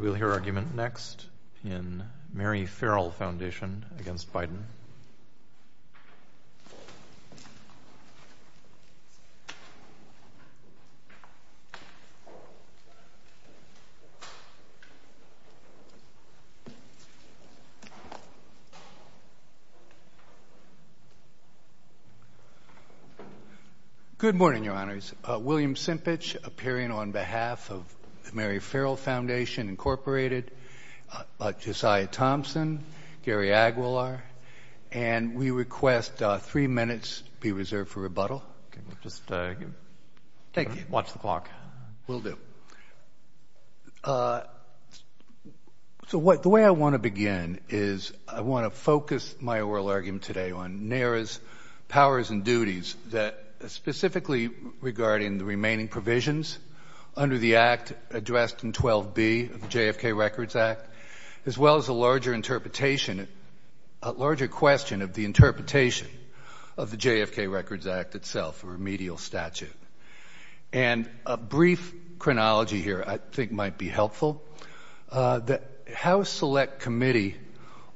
We'll hear argument next in Mary Ferrell Foundation v. Biden. Good morning, Your Honors. William Simpich, appearing on behalf of Mary Ferrell Foundation, Inc., Josiah Thompson, Gary Aguilar, and we request three minutes be reserved for rebuttal. The way I want to begin is I want to focus my oral argument today on NARA's powers and duties that specifically regarding the remaining provisions under the act addressed in 12b of the JFK Records Act as well as a larger question of the interpretation of the JFK Records Act itself, a remedial statute. And a brief chronology here I think might be helpful. House Select Committee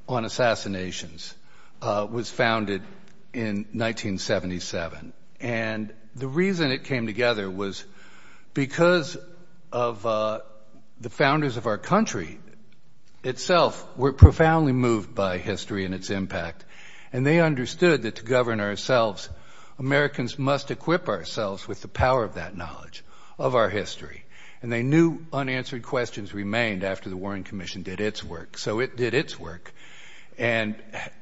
on Assassinations was founded in 1977, and the reason it came together was because of the founders of our country itself were profoundly moved by history and its impact. And they understood that to govern ourselves, Americans must equip ourselves with the power of that knowledge of our history. And they knew unanswered questions remained after the Warren Commission did its work. So it did its work and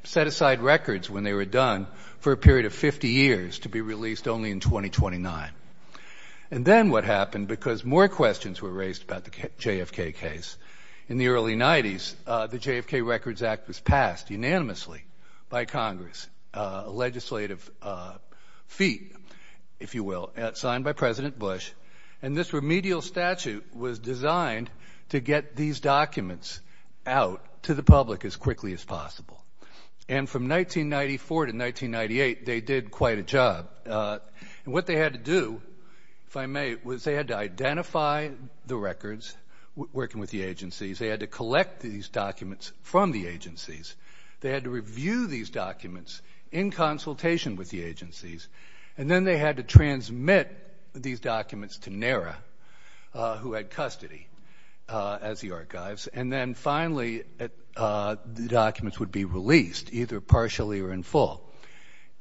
set aside records when they were done for a period of 50 years to be released only in 2029. And then what happened, because more questions were raised about the JFK case, in the early 90s, the JFK Records Act was passed unanimously by Congress, a legislative feat, if you will, signed by President Bush. And this remedial statute was designed to get these documents out to the public as quickly as possible. And from 1994 to 1998, they did quite a job. And what they had to do, if I may, was they had to identify the records working with the agencies. They had to collect these documents from the agencies. They had to review these documents in consultation with the agencies. And then they had to transmit these documents to NARA, who had custody as the archives. And then finally, the documents would be released, either partially or in full.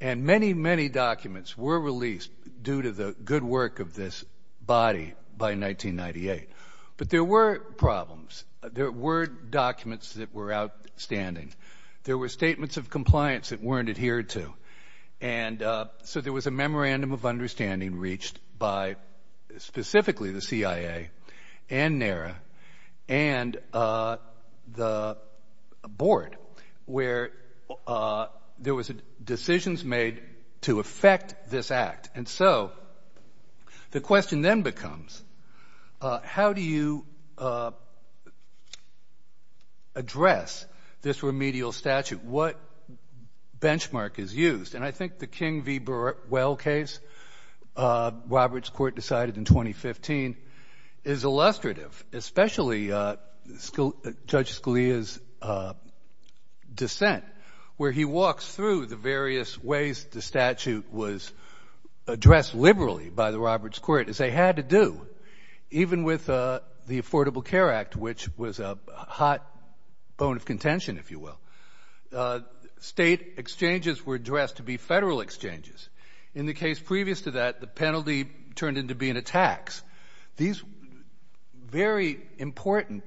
And many, many documents were released due to the good work of this body by 1998. But there were problems. There were documents that were outstanding. There were statements of compliance that weren't adhered to. And so there was a memorandum of understanding reached by specifically the CIA and NARA. And the board, where there was decisions made to affect this act. And so the question then becomes, how do you address this remedial statute? What benchmark is used? And I think the King v. Well case, Robert's court decided in 2015, is illustrative, especially Judge Scalia's dissent, where he walks through the various ways the statute was addressed liberally by the Roberts court, as they had to do, even with the Affordable Care Act, which was a hot bone of In the case previous to that, the penalty turned into being a tax. These very important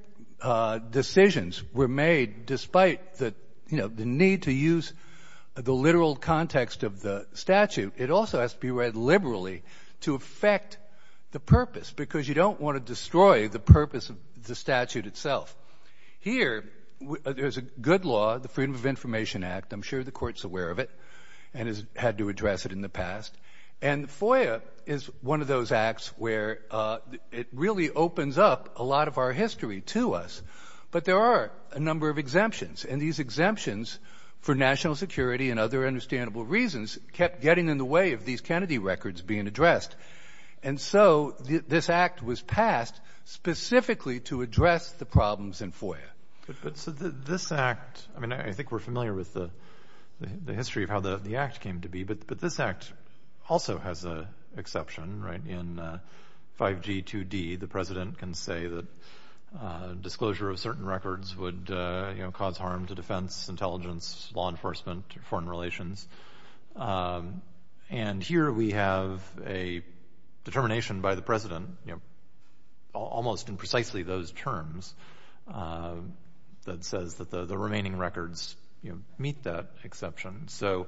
decisions were made despite the need to use the literal context of the statute. It also has to be read liberally to affect the purpose, because you don't want to destroy the purpose of the statute itself. Here, there's a good law, the Freedom of Information Act. I'm sure the court's aware of it, and has had to address it in the past. And FOIA is one of those acts where it really opens up a lot of our history to us. But there are a number of exemptions, and these exemptions for national security and other understandable reasons kept getting in the way of these Kennedy records being addressed. And so this act was passed specifically to address the problems in FOIA. So this act, I think we're familiar with the history of how the act came to be, but this act also has an exception. In 5G2D, the president can say that disclosure of certain records would cause harm to defense, intelligence, law enforcement, foreign relations. And here we have a determination by the president, almost in precisely those terms, that says that the remaining records meet that exception. So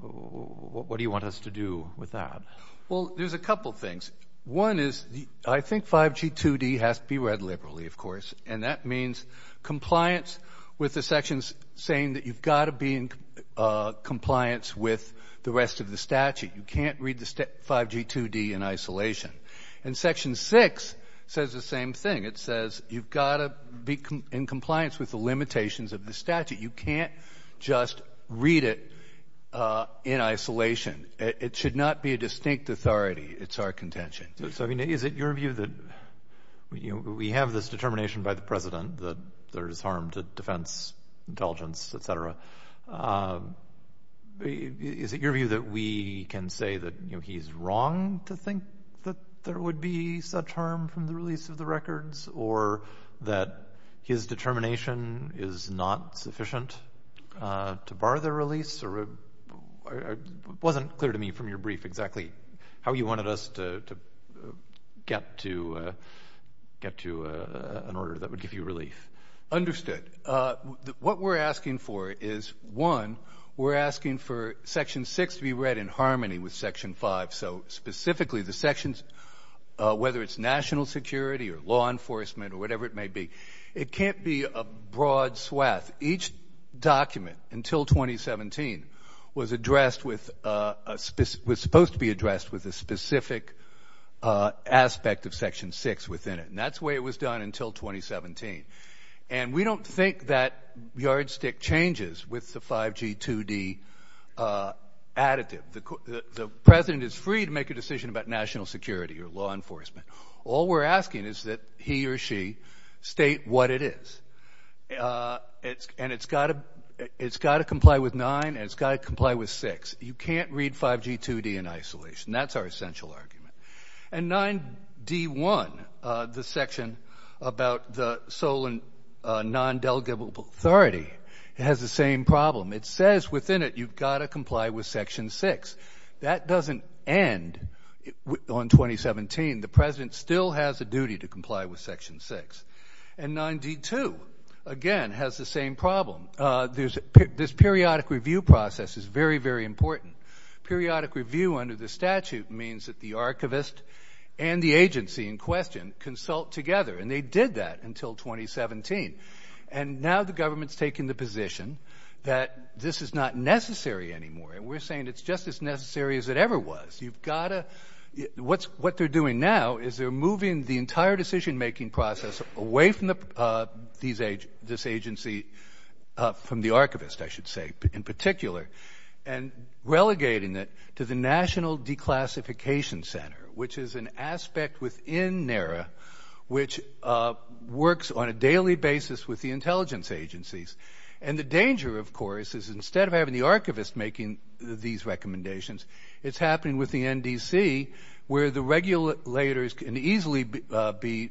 what do you want us to do with that? Well, there's a couple things. One is, I think 5G2D has to be read liberally, of course, and that means compliance with the sections saying that you've got to be in compliance with the rest of the statute. You can't read the 5G2D in isolation. And Section 6 says the same thing. You've got to be in compliance with the limitations of the statute. You can't just read it in isolation. It should not be a distinct authority. It's our contention. So is it your view that we have this determination by the president that there's harm to defense, intelligence, et cetera. Is it your view that we can say that he's wrong to think that there would be such harm from the release of the records or that his determination is not sufficient to bar the release? It wasn't clear to me from your brief exactly how you wanted us to get to an order that would give you relief. Understood. What we're asking for is, one, we're asking for Section 6 to be read in harmony with Section 5, so specifically the sections, whether it's national security or law enforcement or whatever it may be. It can't be a broad swath. Each document until 2017 was supposed to be addressed with a specific aspect of Section 6 within it, and that's the way it was done until 2017. And we don't think that yardstick changes with the 5G2D additive. The president is free to make a decision about national security or law enforcement. All we're asking is that he or she state what it is. And it's got to comply with 9 and it's got to comply with 6. You can't read 5G2D in isolation. That's our essential argument. And 9D1, the section about the Solon non-delegable authority, it has the same problem. It says within it you've got to comply with Section 6. That doesn't end on 2017. The president still has a duty to comply with Section 6. And 9D2, again, has the same problem. This periodic review process is very, very important. Periodic review under the statute means that the archivist and the agency in question consult together. And they did that until 2017. And now the government's taking the position that this is not necessary anymore. And we're saying it's just as necessary as it ever was. What they're doing now is they're moving the entire decision-making process away from this agency, from the archivist, I should say, in particular, and relegating it to the National Declassification Center, which is an aspect within NARA which works on a daily basis with the intelligence agencies. And the danger, of course, is instead of having the archivist making these recommendations, it's happening with the NDC where the regulators can easily be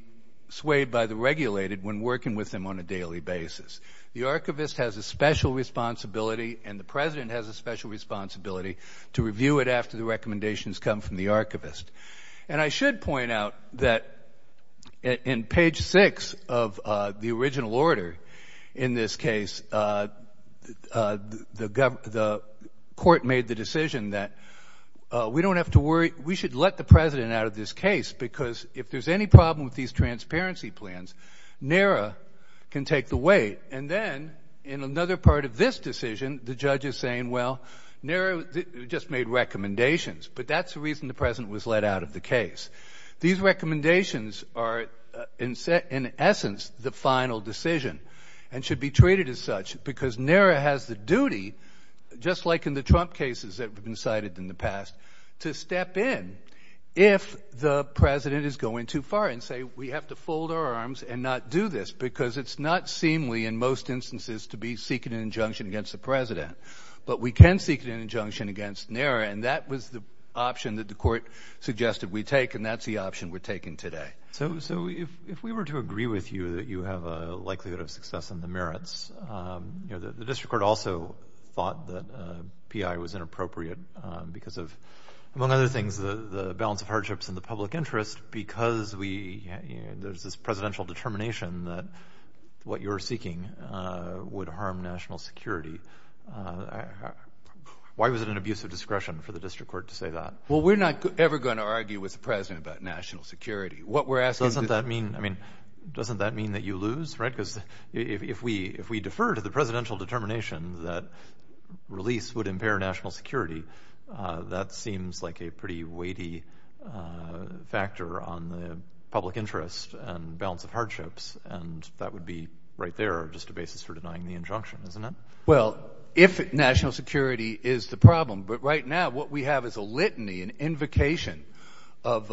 swayed by the regulated when working with them on a daily basis. The archivist has a special responsibility and the president has a special responsibility to review it after the recommendations come from the archivist. And I should point out that in page 6 of the original order in this case, the court made the decision that we don't have to worry. We should let the president out of this because if there's any problem with these transparency plans, NARA can take the weight. And then in another part of this decision, the judge is saying, well, NARA just made recommendations. But that's the reason the president was let out of the case. These recommendations are in essence the final decision and should be treated as such because NARA has the duty, just like in the Trump cases that have been cited in the past, to step in if the president is going too far and say, we have to fold our arms and not do this because it's not seemingly in most instances to be seeking an injunction against the president. But we can seek an injunction against NARA. And that was the option that the court suggested we take. And that's the option we're taking today. So if we were to agree with you that you have a likelihood of success in the merits, the district court also thought that P.I. was inappropriate because of, among other things, the balance of hardships in the public interest because there's this presidential determination that what you're seeking would harm national security. Why was it an abuse of discretion for the district court to say that? Well, we're not ever going to argue with the president about national security. Doesn't that mean that you lose? Because if we defer to the presidential determination that release would impair national security, that seems like a pretty weighty factor on the public interest and balance of hardships. And that would be, right there, just a basis for denying the injunction, isn't it? Well, if national security is the problem, but right now what we have is a litany, an invocation of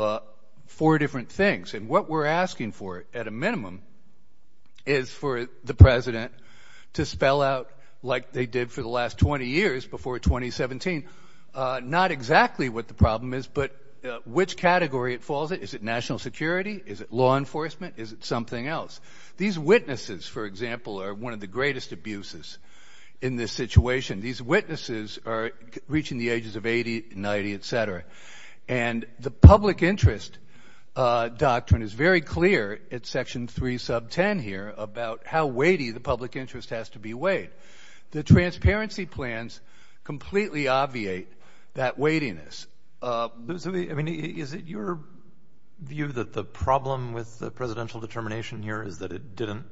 four different things. And what we're asking for, at a minimum, is for the president to spell out, like they did for the last 20 years before 2017, not exactly what the problem is, but which category it falls in. Is it national security? Is it law enforcement? Is it something else? These witnesses, for example, are one of the greatest abuses in this situation. These witnesses are reaching the ages of 80, 90, etc. And the public interest doctrine is very clear at section 3 sub 10 here about how weighty the public interest has to be weighed. The transparency plans completely obviate that weightiness. I mean, is it your view that the problem with the presidential determination here is that it didn't?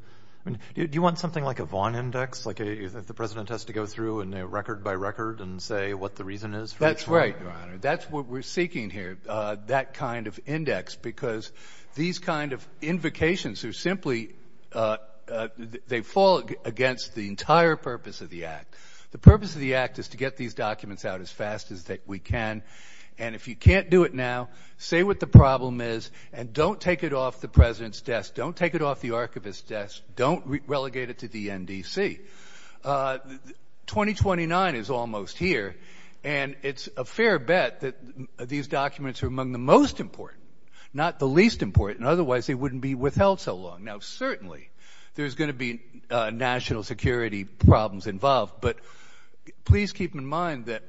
I mean, do you want something like a Vaughn index, like the president has to go through record by record and say what the reason is? That's right, your honor. That's what we're seeking here, that kind of index, because these kind of invocations are simply, they fall against the entire purpose of the act. The purpose of the act is to get these documents out as fast as we can. And if you can't do it now, say what the problem is, and don't take it off the president's desk. Don't take it off the archivist's desk. Don't relegate it to the NDC. 2029 is almost here, and it's a fair bet that these documents are among the most important, not the least important, otherwise they wouldn't be withheld so long. Now, certainly there's going to be national security problems involved, but please keep in mind that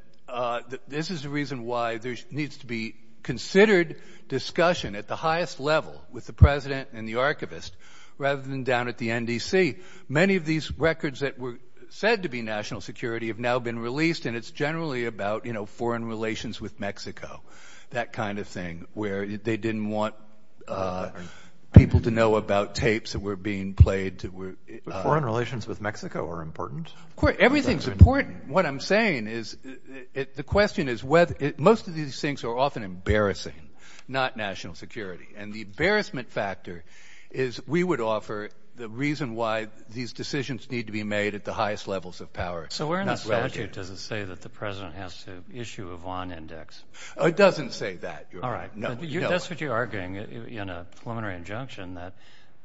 this is the reason why there needs to be considered discussion at the NDC. Many of these records that were said to be national security have now been released, and it's generally about foreign relations with Mexico, that kind of thing, where they didn't want people to know about tapes that were being played. Foreign relations with Mexico are important? Of course, everything's important. What I'm saying is, the question is, most of these things are often embarrassing, not national security. And the embarrassment factor is, we would offer the reason why these decisions need to be made at the highest levels of power, not relative. So, where in the statute does it say that the president has to issue a Vaughn Index? It doesn't say that. All right. That's what you're arguing in a preliminary injunction, that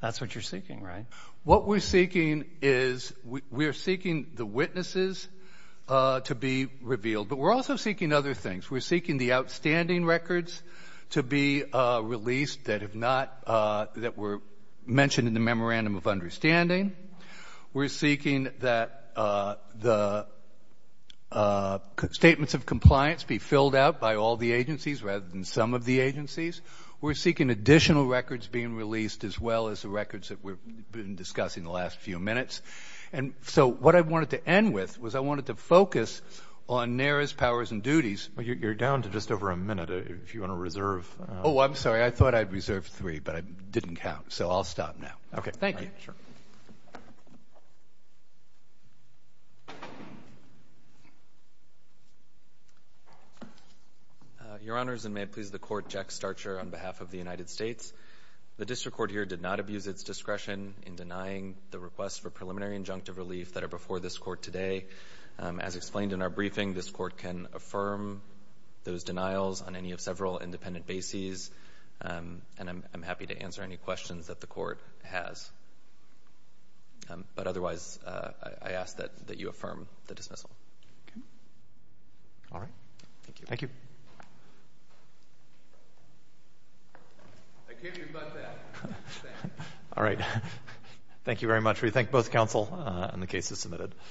that's what you're seeking, right? What we're seeking is, we're seeking the witnesses to be revealed, but we're also seeking other things. We're seeking the outstanding records to be released that have not, that were mentioned in the memorandum of understanding. We're seeking that the statements of compliance be filled out by all the agencies, rather than some of the agencies. We're seeking additional records being released, as well as the records that we've been discussing the last few minutes. And so, what I wanted to end with was, I wanted to focus on NARA's powers and duties. Well, you're down to just over a minute, if you want to reserve. Oh, I'm sorry. I thought I'd reserved three, but I didn't count. So, I'll stop now. Okay. Thank you. Your Honors, and may it please the Court, Jack Starcher on behalf of the United States. The district court here did not abuse its discretion in denying the request for preliminary injunctive relief that are before this Court today. As explained in our briefing, this Court can affirm those denials on any of several independent bases, and I'm happy to answer any questions that the Court has. But otherwise, I ask that you affirm the dismissal. All right. Thank you. Thank you. I kid you about that. All right. Thank you very much. We thank both counsel, and the case is submitted.